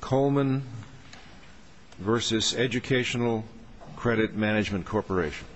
Coleman v. Educational Credit Management Corporation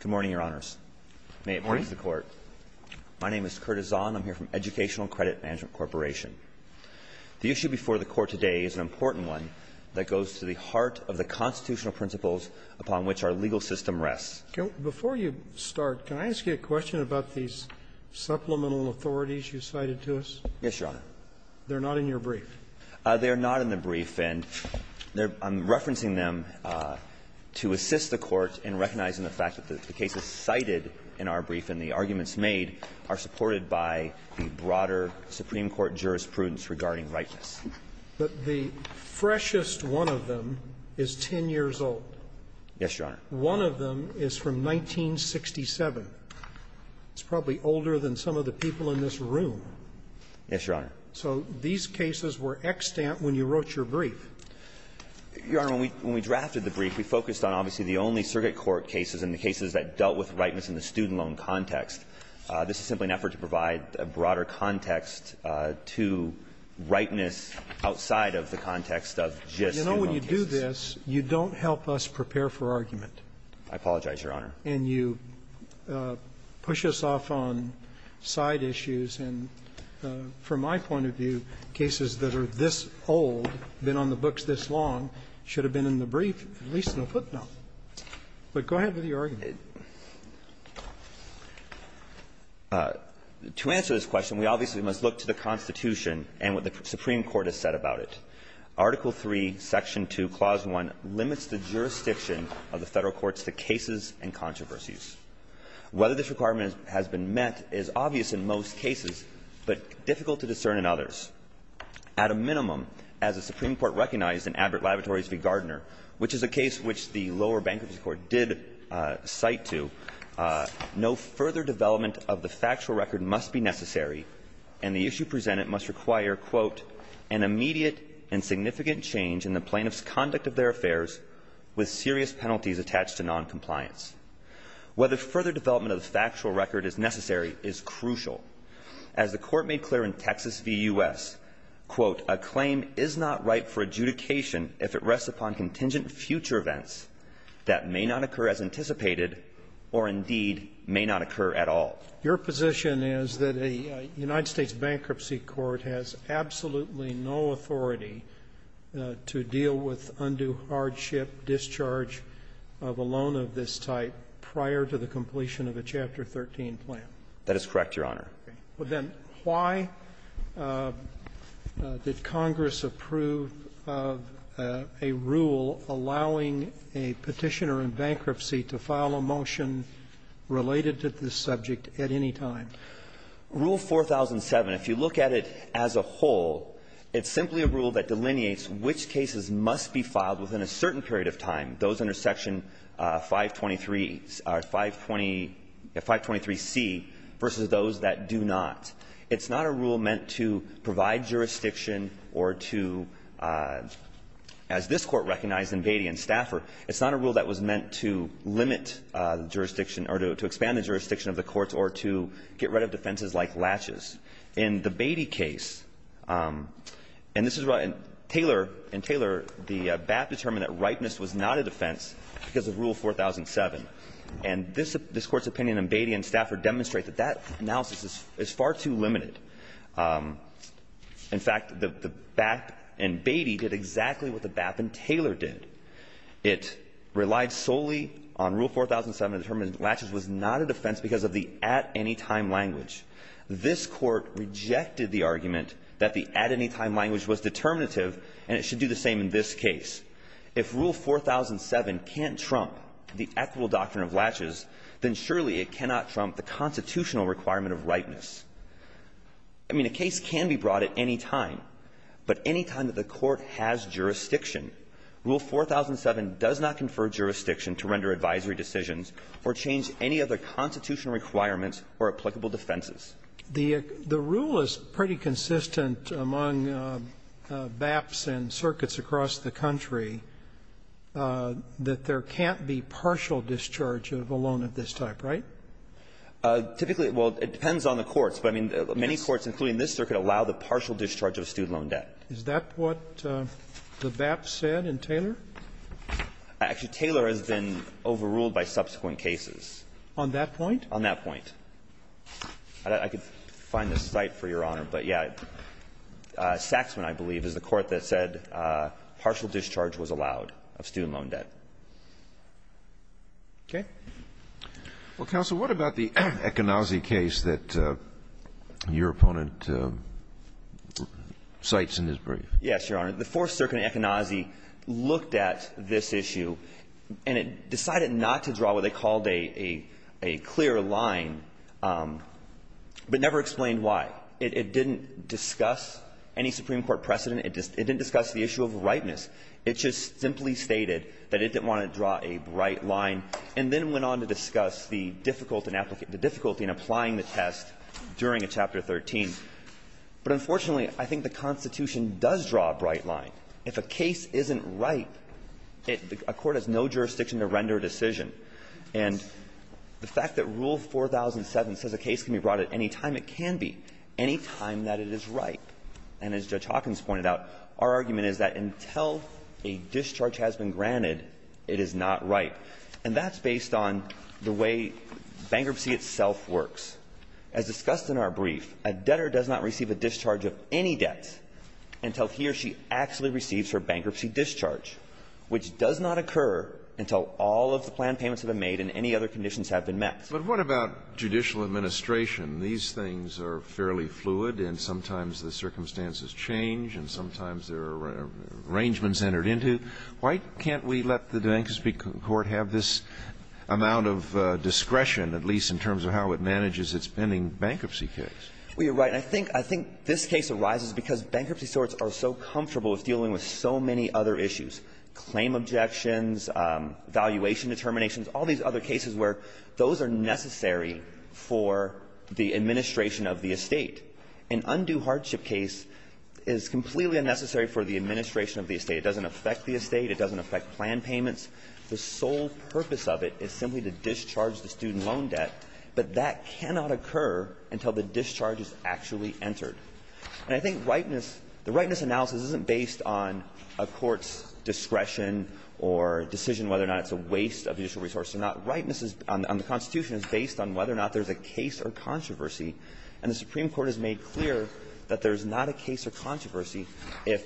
Good morning, Your Honors. May it please the Court. My name is Kurt Azzon. I'm here from Educational Credit Management Corporation. The issue before the Court today is an important one that goes to the heart of the constitutional principles upon which our legal system rests. Before you start, can I ask you a question about these supplemental authorities you cited to us? Yes, Your Honor. They're not in your brief. They're not in the brief, and I'm referencing them to assist the Court in recognizing the fact that the cases cited in our brief and the arguments made are supported by the broader Supreme Court jurisprudence regarding rightness. But the freshest one of them is 10 years old. Yes, Your Honor. One of them is from 1967. It's probably older than some of the people in this room. Yes, Your Honor. So these cases were extant when you wrote your brief. Your Honor, when we drafted the brief, we focused on obviously the only circuit court cases and the cases that dealt with rightness in the student loan context. This is simply an effort to provide a broader context to rightness outside of the context of just student loan cases. But you know, when you do this, you don't help us prepare for argument. I apologize, Your Honor. And you push us off on side issues. And from my point of view, cases that are this old, been on the books this long, should have been in the brief, at least in the footnote. But go ahead with your argument. To answer this question, we obviously must look to the Constitution and what the Supreme Court has said about it. Article III, Section 2, Clause 1 limits the jurisdiction of the Federal courts to cases of misuse and controversies. Whether this requirement has been met is obvious in most cases, but difficult to discern in others. At a minimum, as the Supreme Court recognized in Abbott Laboratories v. Gardner, which is a case which the lower bankruptcy court did cite to, no further development of the factual record must be necessary, and the issue presented must require, quote, an immediate and significant change in the plaintiff's conduct of their compliance. Whether further development of the factual record is necessary is crucial. As the Court made clear in Texas v. U.S., quote, a claim is not ripe for adjudication if it rests upon contingent future events that may not occur as anticipated, or indeed may not occur at all. Your position is that a United States bankruptcy court has absolutely no authority to deal with undue hardship, discharge of a loan of this type prior to the completion of a Chapter 13 plan. That is correct, Your Honor. Okay. Well, then, why did Congress approve of a rule allowing a Petitioner in bankruptcy to file a motion related to this subject at any time? Rule 4007, if you look at it as a whole, it's simply a rule that delineates which cases must be filed within a certain period of time, those under Section 523 or 520 or 523C versus those that do not. It's not a rule meant to provide jurisdiction or to, as this Court recognized in Beatty and Stafford, it's not a rule that was meant to limit jurisdiction or to expand the jurisdiction of the courts or to get rid of defenses like latches. In the Beatty case, and this is right in Taylor, in Taylor, the BAP determined that ripeness was not a defense because of Rule 4007. And this Court's opinion in Beatty and Stafford demonstrates that that analysis is far too limited. In fact, the BAP in Beatty did exactly what the BAP in Taylor did. It relied solely on Rule 4007 to determine that latches was not a defense because of the at-any-time language. This Court rejected the argument that the at-any-time language was determinative, and it should do the same in this case. If Rule 4007 can't trump the equitable doctrine of latches, then surely it cannot trump the constitutional requirement of ripeness. I mean, a case can be brought at any time, but any time that the Court has jurisdiction, Rule 4007 does not confer jurisdiction to render advisory decisions or change any other constitutional requirements or applicable defenses. The rule is pretty consistent among BAPs and circuits across the country, that there can't be partial discharge of a loan of this type, right? Typically, well, it depends on the courts, but, I mean, many courts, including this circuit, allow the partial discharge of a student loan debt. Is that what the BAP said in Taylor? Actually, Taylor has been overruled by subsequent cases. On that point? On that point. I could find the site for Your Honor, but, yeah, Saxman, I believe, is the court that said partial discharge was allowed of student loan debt. Okay. Well, Counsel, what about the Econazi case that your opponent cites in his brief? Yes, Your Honor. The Fourth Circuit in Econazi looked at this issue, and it decided not to draw what they called a clear line, but never explained why. It didn't discuss any Supreme Court precedent. It didn't discuss the issue of ripeness. It just simply stated that it didn't want to draw a bright line. And then it went on to discuss the difficulty in applying the test during a Chapter 13. But, unfortunately, I think the Constitution does draw a bright line. If a case isn't ripe, a court has no jurisdiction to render a decision. And the fact that Rule 4007 says a case can be brought at any time, it can be, any time that it is ripe. And as Judge Hawkins pointed out, our argument is that until a discharge has been granted, it is not ripe. And that's based on the way bankruptcy itself works. As discussed in our brief, a debtor does not receive a discharge of any debt until he or she actually receives her bankruptcy discharge, which does not occur until all of the planned payments have been made and any other conditions have been met. But what about judicial administration? These things are fairly fluid, and sometimes the circumstances change, and sometimes there are arrangements entered into. Why can't we let the Dankers v. Court have this amount of discretion, at least in terms of how it manages its pending bankruptcy case? Well, you're right. I think this case arises because bankruptcy sorts are so comfortable with dealing with so many other issues, claim objections, valuation determinations, all these other cases where those are necessary for the administration of the estate. An undue hardship case is completely unnecessary for the administration of the estate. It doesn't affect the estate. It doesn't affect planned payments. The sole purpose of it is simply to discharge the student loan debt, but that cannot occur until the discharge is actually entered. And I think ripeness – the ripeness analysis isn't based on a court's discretion or decision whether or not it's a waste of judicial resources or not. Ripeness on the Constitution is based on whether or not there's a case or controversy. If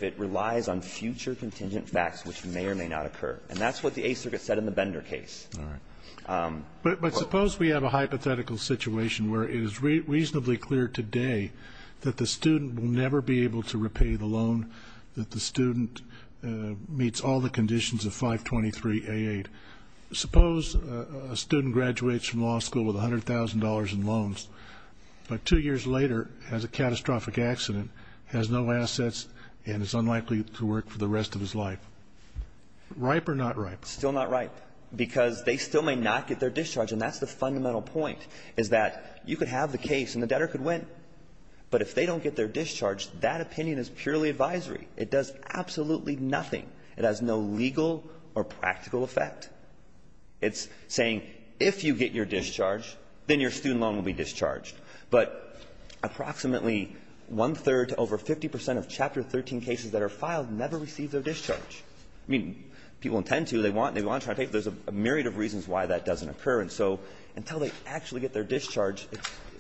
it relies on future contingent facts, which may or may not occur. And that's what the Eighth Circuit said in the Bender case. All right. But suppose we have a hypothetical situation where it is reasonably clear today that the student will never be able to repay the loan, that the student meets all the conditions of 523A8. Suppose a student graduates from law school with $100,000 in loans, but two years later has a catastrophic accident, has no assets, and is unlikely to work for the rest of his life. Ripe or not ripe? Still not ripe, because they still may not get their discharge. And that's the fundamental point, is that you could have the case and the debtor could win. But if they don't get their discharge, that opinion is purely advisory. It does absolutely nothing. It has no legal or practical effect. It's saying, if you get your discharge, then your student loan will be discharged. But approximately one-third to over 50 percent of Chapter 13 cases that are filed never receive their discharge. I mean, people intend to. They want to try to pay, but there's a myriad of reasons why that doesn't occur. And so until they actually get their discharge,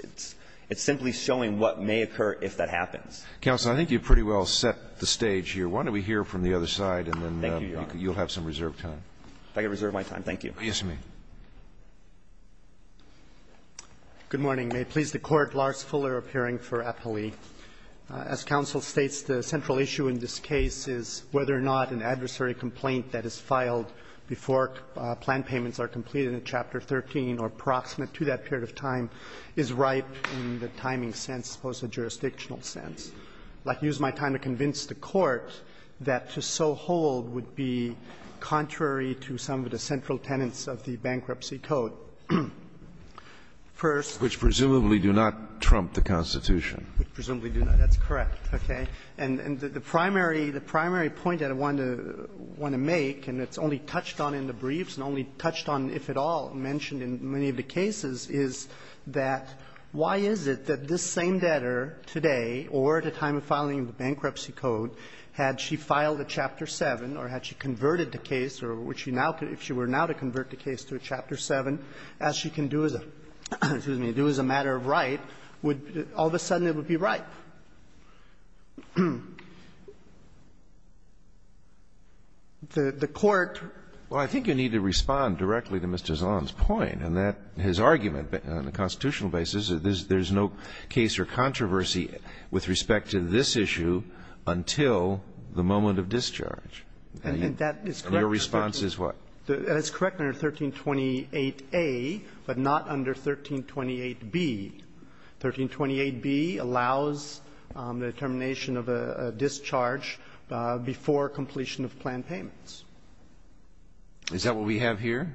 it's simply showing what may occur if that happens. Counsel, I think you've pretty well set the stage here. Why don't we hear from the other side, and then you'll have some reserved time. If I could reserve my time, thank you. Yes, you may. Good morning. May it please the Court. Lars Fuller, appearing for appellee. As counsel states, the central issue in this case is whether or not an adversary complaint that is filed before plan payments are completed in Chapter 13 or approximate to that period of time is ripe in the timing sense, post-jurisdictional sense. I'd like to use my time to convince the Court that to so hold would be contrary to some of the central tenets of the Bankruptcy Code. First of all. Which presumably do not trump the Constitution. Which presumably do not. That's correct, okay. And the primary point that I want to make, and it's only touched on in the briefs and only touched on, if at all, mentioned in many of the cases, is that why is it that this same debtor today, or at the time of filing the Bankruptcy Code, had she filed a Chapter 7, or had she converted the case, or would she now, if she were now to convert the case to a Chapter 7, as she can do as a matter of right, would all of a sudden it would be ripe? The Court ---- Well, I think you need to respond directly to Mr. Zahn's point and that his argument on a constitutional basis, there's no case or controversy with respect to this issue until the moment of discharge. And your response is what? That is correct under 1328a, but not under 1328b. 1328b allows the termination of a discharge before completion of plan payments. Is that what we have here?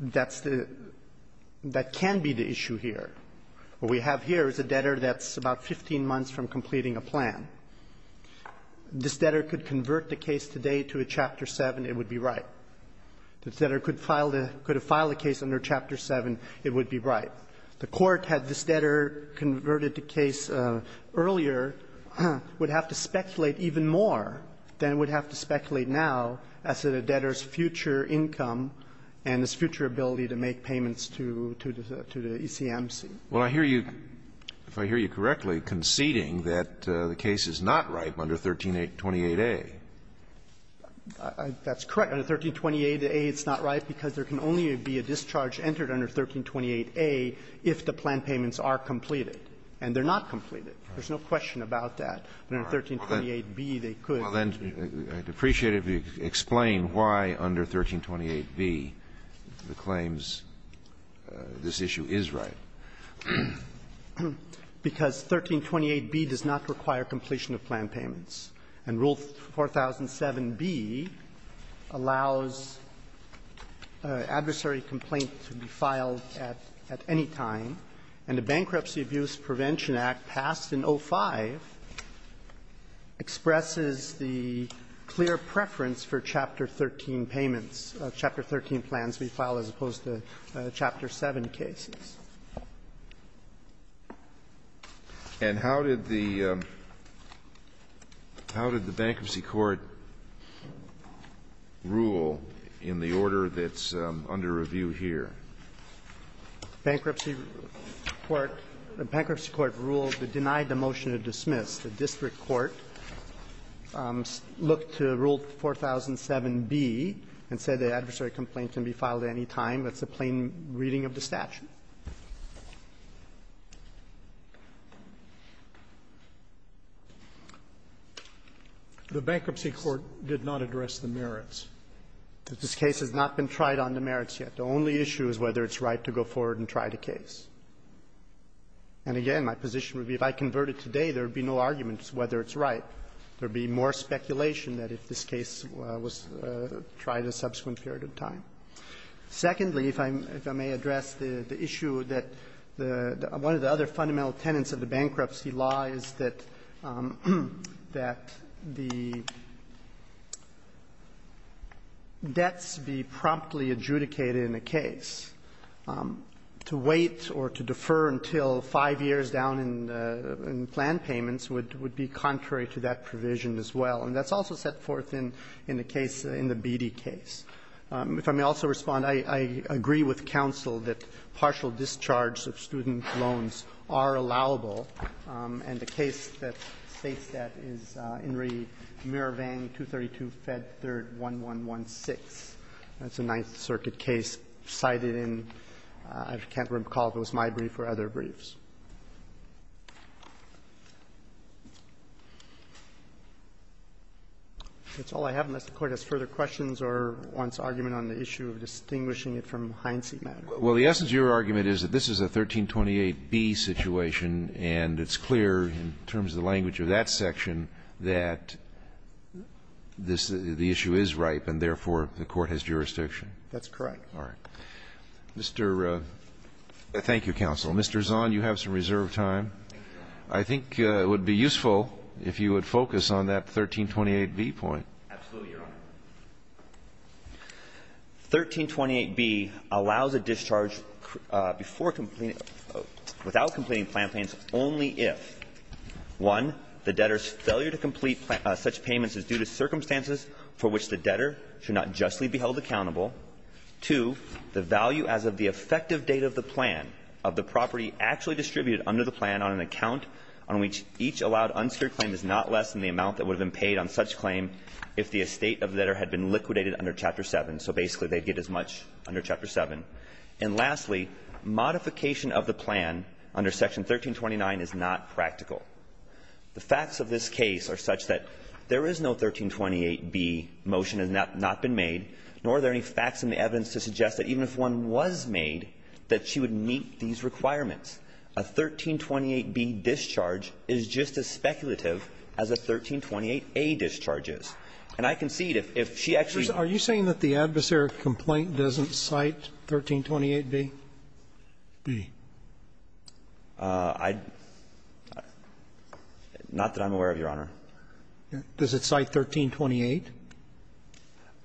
That's the ---- that can be the issue here. What we have here is a debtor that's about 15 months from completing a plan. If this debtor could convert the case today to a Chapter 7, it would be ripe. If this debtor could file the case under Chapter 7, it would be ripe. The Court, had this debtor converted the case earlier, would have to speculate even more than it would have to speculate now as to the debtor's future income and his future ability to make payments to the ECMC. Well, I hear you, if I hear you correctly, conceding that the case is not ripe under 1328a. That's correct. Under 1328a, it's not ripe because there can only be a discharge entered under 1328a if the plan payments are completed, and they're not completed. There's no question about that. But under 1328b, they could. Well, then, I'd appreciate it if you could explain why under 1328b the claims this issue is ripe. Because 1328b does not require completion of plan payments. And Rule 4007b allows adversary complaint to be filed at any time. And the Bankruptcy Abuse Prevention Act passed in 05 expresses the clear preference for Chapter 13 payments, Chapter 13 plans to be filed as opposed to Chapter 7 cases. And how did the Bankruptcy Court rule in the order that's under review here? Bankruptcy Court ruled that denied the motion to dismiss. The district court looked to Rule 4007b and said the adversary complaint can be filed at any time. That's a plain reading of the statute. The Bankruptcy Court did not address the merits. This case has not been tried on the merits yet. The only issue is whether it's right to go forward and try the case. And again, my position would be if I convert it today, there would be no arguments whether it's right. There would be more speculation that if this case was tried a subsequent period of time. Secondly, if I may address the issue that one of the other fundamental tenets of the bankruptcy law is that the debts be promptly adjudicated in a case. To wait or to defer until five years down in plan payments would be contrary to that provision as well. And that's also set forth in the case, in the Beattie case. If I may also respond, I agree with counsel that partial discharge of student loans are allowable, and the case that states that is In re Mirovang, 232 Fed 3, 1116. That's a Ninth Circuit case cited in, I can't recall if it was my brief or other briefs. That's all I have, unless the Court has further questions or wants to argue on the issue of distinguishing it from the Heinze matter. Well, the essence of your argument is that this is a 1328B situation, and it's clear in terms of the language of that section that this, the issue is ripe, and therefore the Court has jurisdiction. That's correct. All right. Mr. Thank you, counsel. Mr. Zahn, you have some reserve time. I think it would be useful if you would focus on that 1328B point. Absolutely, Your Honor. 1328B allows a discharge before completing, without completing plan payments only if, one, the debtor's failure to complete such payments is due to circumstances for which the debtor should not justly be held accountable, two, the value as of the effective date of the plan of the property actually distributed under the plan on an account on which each allowed unsecured claim is not less than the amount that would have been paid on such claim if the estate of the debtor had been liquidated under Chapter 7, so basically they'd get as much under Chapter 7, and lastly, modification of the plan under Section 1329 is not practical. The facts of this case are such that there is no 1328B motion that has not been made, nor are there any facts in the evidence to suggest that even if one was made, that she would meet these requirements. A 1328B discharge is just as speculative as a 1328A discharge is. And I concede, if she actually ---- Are you saying that the adversary complaint doesn't cite 1328B? I don't know that I'm aware of, Your Honor. Does it cite 1328?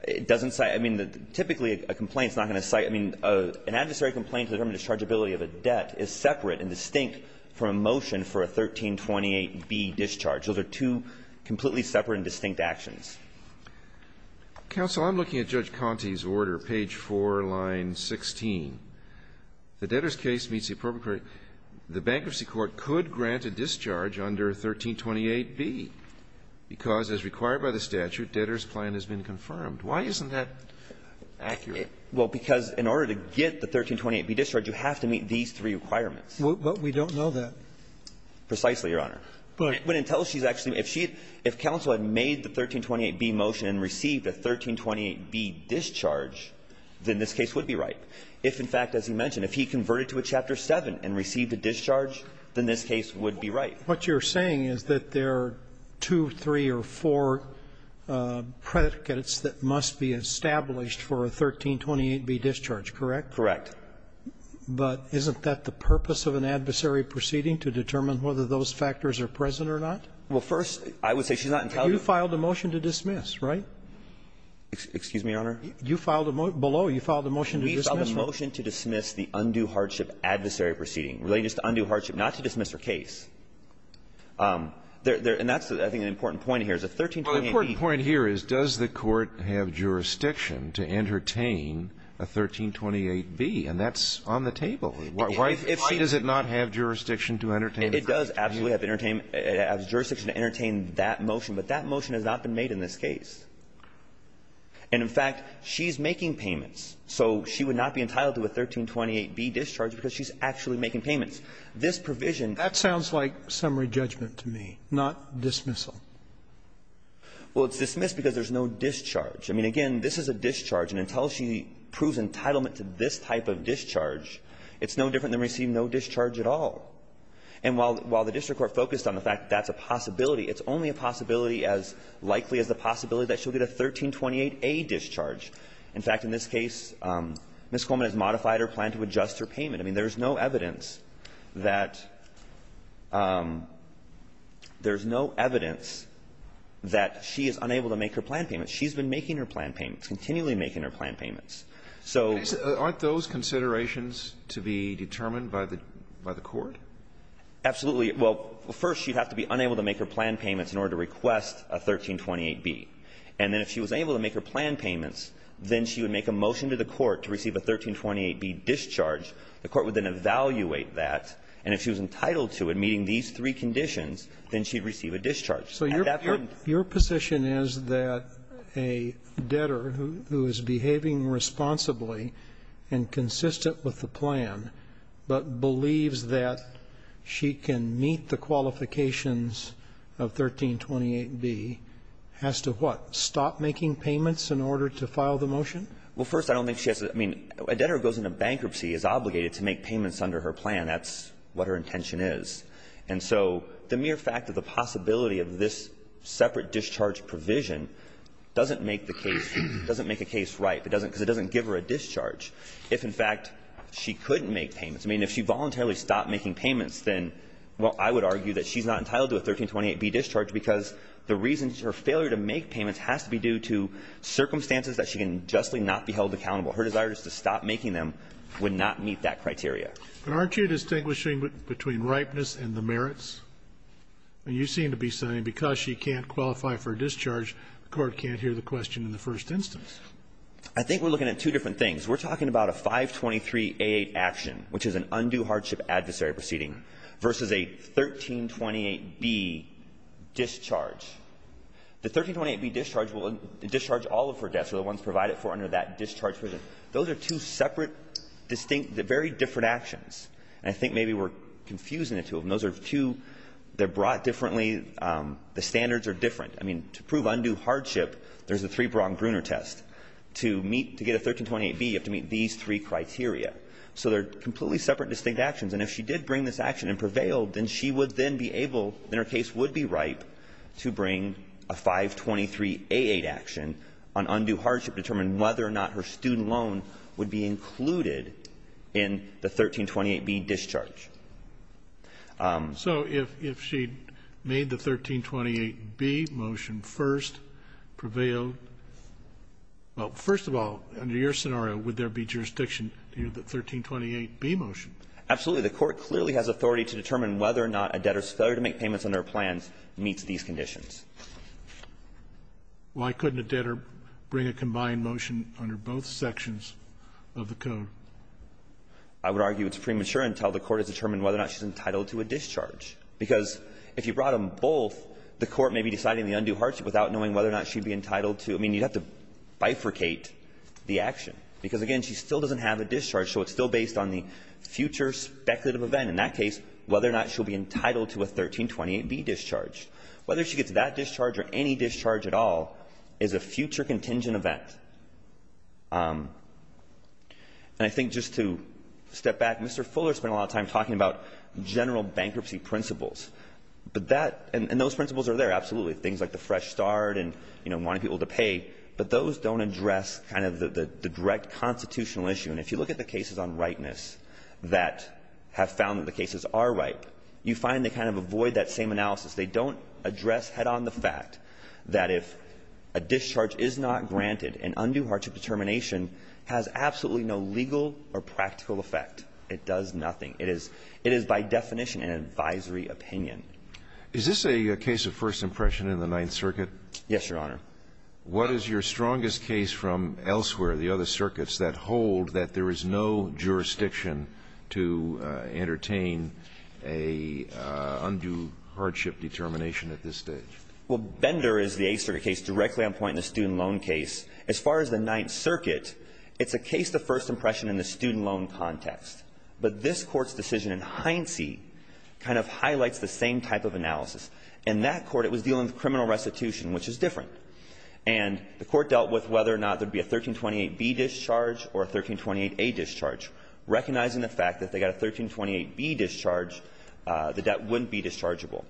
It doesn't cite ---- I mean, typically a complaint is not going to cite ---- I mean, an adversary complaint to determine the dischargeability of a debt is separate and distinct from a motion for a 1328B discharge. Those are two completely separate and distinct actions. Counsel, I'm looking at Judge Conte's order, page 4, line 16. The debtor's case meets the appropriate ---- the bankruptcy court could grant a discharge under 1328B, because as required by the statute, debtor's plan has been confirmed. Why isn't that accurate? Well, because in order to get the 1328B discharge, you have to meet these three requirements. But we don't know that. Precisely, Your Honor. But until she's actually ---- if she had ---- if counsel had made the 1328B motion and received a 1328B discharge, then this case would be right. If, in fact, as you mentioned, if he converted to a Chapter 7 and received a discharge, then this case would be right. What you're saying is that there are two, three, or four predicates that must be established for a 1328B discharge, correct? Correct. But isn't that the purpose of an adversary proceeding, to determine whether those factors are present or not? Well, first, I would say she's not entitled to ---- You filed a motion to dismiss, right? Excuse me, Your Honor? You filed a motion below. You filed a motion to dismiss. We filed a motion to dismiss the undue hardship adversary proceeding related to undue hardship. And that's, I think, an important point here, is a 1328B ---- Well, the important point here is, does the Court have jurisdiction to entertain a 1328B? And that's on the table. Why does it not have jurisdiction to entertain a 1328B? It does absolutely have jurisdiction to entertain that motion. But that motion has not been made in this case. And, in fact, she's making payments. So she would not be entitled to a 1328B discharge because she's actually making payments. This provision ---- That sounds like summary judgment to me, not dismissal. Well, it's dismissed because there's no discharge. I mean, again, this is a discharge. And until she proves entitlement to this type of discharge, it's no different than receiving no discharge at all. And while the district court focused on the fact that that's a possibility, it's only a possibility as likely as the possibility that she'll get a 1328A discharge. In fact, in this case, Ms. Coleman has modified her plan to adjust her payment. I mean, there's no evidence that she is unable to make her plan payments. She's been making her plan payments, continually making her plan payments. So ---- Aren't those considerations to be determined by the court? Absolutely. Well, first, she'd have to be unable to make her plan payments in order to request a 1328B. And then if she was able to make her plan payments, then she would make a motion to the court to receive a 1328B discharge. The court would then evaluate that, and if she was entitled to it, meeting these three conditions, then she'd receive a discharge. At that point ---- So your position is that a debtor who is behaving responsibly and consistent with the plan, but believes that she can meet the qualifications of 1328B has to what? Stop making payments in order to file the motion? Well, first, I don't think she has to ---- I mean, a debtor who goes into bankruptcy is obligated to make payments under her plan. That's what her intention is. And so the mere fact of the possibility of this separate discharge provision doesn't make the case ---- doesn't make a case right. It doesn't ---- because it doesn't give her a discharge if, in fact, she couldn't make payments. I mean, if she voluntarily stopped making payments, then, well, I would argue that she's not entitled to a 1328B discharge because the reason her failure to make payments has to be due to circumstances that she can justly not be held accountable. Her desire is to stop making them would not meet that criteria. And aren't you distinguishing between ripeness and the merits? You seem to be saying because she can't qualify for a discharge, the Court can't hear the question in the first instance. I think we're looking at two different things. We're talking about a 523A8 action, which is an undue hardship adversary proceeding, versus a 1328B discharge. The 1328B discharge will discharge all of her debts, or the ones provided for under that discharge provision. Those are two separate, distinct, very different actions. And I think maybe we're confusing the two of them. Those are two that are brought differently. The standards are different. I mean, to prove undue hardship, there's a three-pronged Gruner test. To meet to get a 1328B, you have to meet these three criteria. So they're completely separate, distinct actions. And if she did bring this action and prevailed, then she would then be able, then her case would be ripe to bring a 523A8 action on undue hardship to determine whether or not her student loan would be included in the 1328B discharge. So if she made the 1328B motion first, prevailed, well, first of all, under your scenario, would there be jurisdiction to hear the 1328B motion? Absolutely. The Court clearly has authority to determine whether or not a debtor's failure to make payments under her plans meets these conditions. Scalia, why couldn't a debtor bring a combined motion under both sections of the code? I would argue it's premature until the Court has determined whether or not she's entitled to a discharge. Because if you brought them both, the Court may be deciding the undue hardship without knowing whether or not she'd be entitled to the action. I mean, you'd have to bifurcate the action. Because, again, she still doesn't have a discharge, so it's still based on the future speculative event. In that case, whether or not she'll be entitled to a 1328B discharge. Whether she gets that discharge or any discharge at all is a future contingent event. And I think just to step back, Mr. Fuller spent a lot of time talking about general bankruptcy principles. But that — and those principles are there, absolutely, things like the fresh start and, you know, wanting people to pay. But those don't address kind of the direct constitutional issue. And if you look at the cases on ripeness that have found that the cases are ripe, you find they kind of avoid that same analysis. They don't address head-on the fact that if a discharge is not granted, an undue hardship determination has absolutely no legal or practical effect. It does nothing. It is by definition an advisory opinion. Is this a case of first impression in the Ninth Circuit? Yes, Your Honor. What is your strongest case from elsewhere, the other circuits, that hold that there is no jurisdiction to entertain an undue hardship determination at this stage? Well, Bender is the eighth circuit case directly on point in the student loan case. As far as the Ninth Circuit, it's a case of first impression in the student loan context. But this Court's decision in Heinze kind of highlights the same type of analysis. In that court, it was dealing with criminal restitution, which is different. And the Court dealt with whether or not there would be a 1328B discharge or a 1328A discharge, recognizing the fact that if they got a 1328B discharge, the debt wouldn't be dischargeable.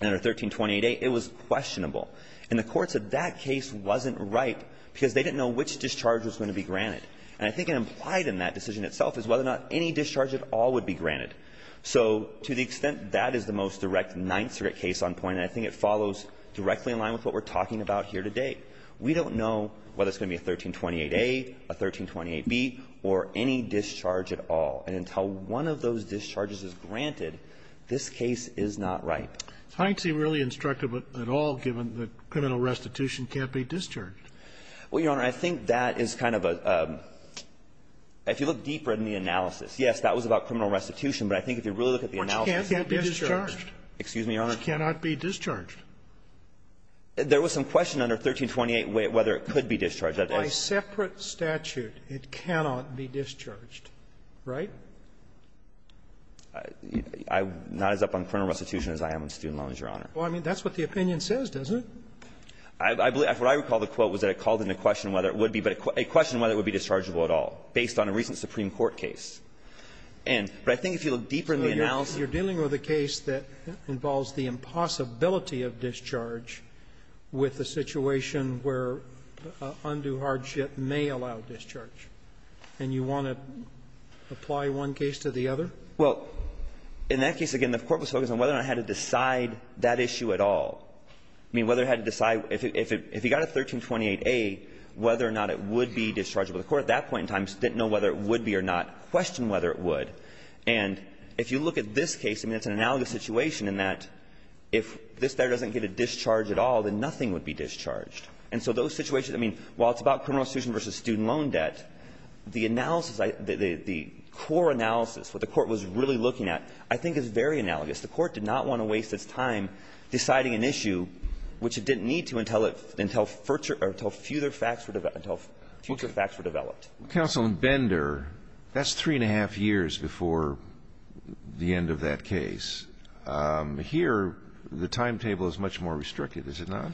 And under 1328A, it was questionable. And the courts of that case wasn't ripe because they didn't know which discharge was going to be granted. And I think it implied in that decision itself is whether or not any discharge at all would be granted. So to the extent that is the most direct Ninth Circuit case on point, and I think it follows directly in line with what we're talking about here today, we don't know whether it's going to be a 1328A, a 1328B, or any discharge at all. And until one of those discharges is granted, this case is not ripe. Does Heinze really instruct at all, given that criminal restitution can't be discharged? Well, Your Honor, I think that is kind of a – if you look deeper in the analysis, yes, that was about criminal restitution. But I think if you really look at the analysis, it can't be discharged. Excuse me, Your Honor? It cannot be discharged. There was some question under 1328 whether it could be discharged. By separate statute, it cannot be discharged, right? I'm not as up on criminal restitution as I am on student loans, Your Honor. Well, I mean, that's what the opinion says, doesn't it? I believe – what I recall the quote was that it called into question whether it would be, but it questioned whether it would be dischargeable at all based on a recent Supreme Court case. And – but I think if you look deeper in the analysis – You're dealing with a case that involves the impossibility of discharge with a situation where undue hardship may allow discharge, and you want to apply one case to the other? Well, in that case, again, the Court was focused on whether or not it had to decide that issue at all. I mean, whether it had to decide – if it got a 1328A, whether or not it would be or not, questioned whether it would. And if you look at this case, I mean, it's an analogous situation in that if this debtor doesn't get a discharge at all, then nothing would be discharged. And so those situations – I mean, while it's about criminal restitution versus student loan debt, the analysis – the core analysis, what the Court was really looking at, I think is very analogous. The Court did not want to waste its time deciding an issue, which it didn't need to until it – until future facts were – until future facts were developed. Counsel, in Bender, that's three and a half years before the end of that case. Here, the timetable is much more restricted, is it not?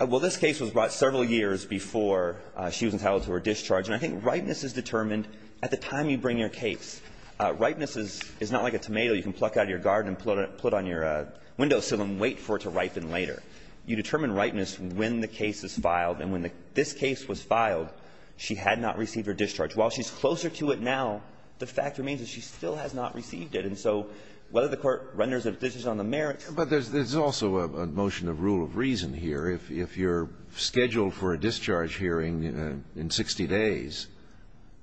Well, this case was brought several years before she was entitled to her discharge. And I think ripeness is determined at the time you bring your case. Ripeness is not like a tomato you can pluck out of your garden and put on your window sill and wait for it to ripen later. You determine ripeness when the case is filed. And when this case was filed, she had not received her discharge. While she's closer to it now, the fact remains that she still has not received it. And so whether the Court renders a decision on the merits – But there's also a motion of rule of reason here. If you're scheduled for a discharge hearing in 60 days,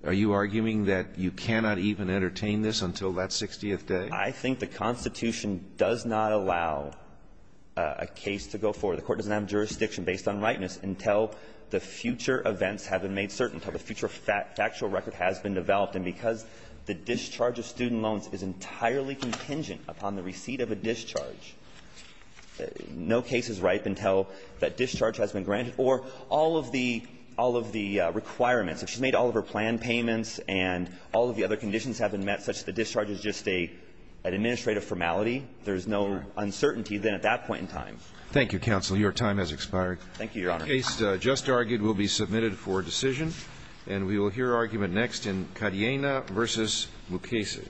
are you arguing that you cannot even entertain this until that 60th day? I think the Constitution does not allow a case to go forward. The Court doesn't have jurisdiction based on ripeness until the future events have been made certain, until the future factual record has been developed. And because the discharge of student loans is entirely contingent upon the receipt of a discharge, no case is ripe until that discharge has been granted or all of the requirements, if she's made all of her planned payments and all of the other conditions have been met such that the discharge is just an administrative formality, there's no uncertainty then at that point in time. Thank you, Counsel. Your time has expired. Thank you, Your Honor. The case just argued will be submitted for decision, and we will hear argument next in Cadena v. Lucchesi.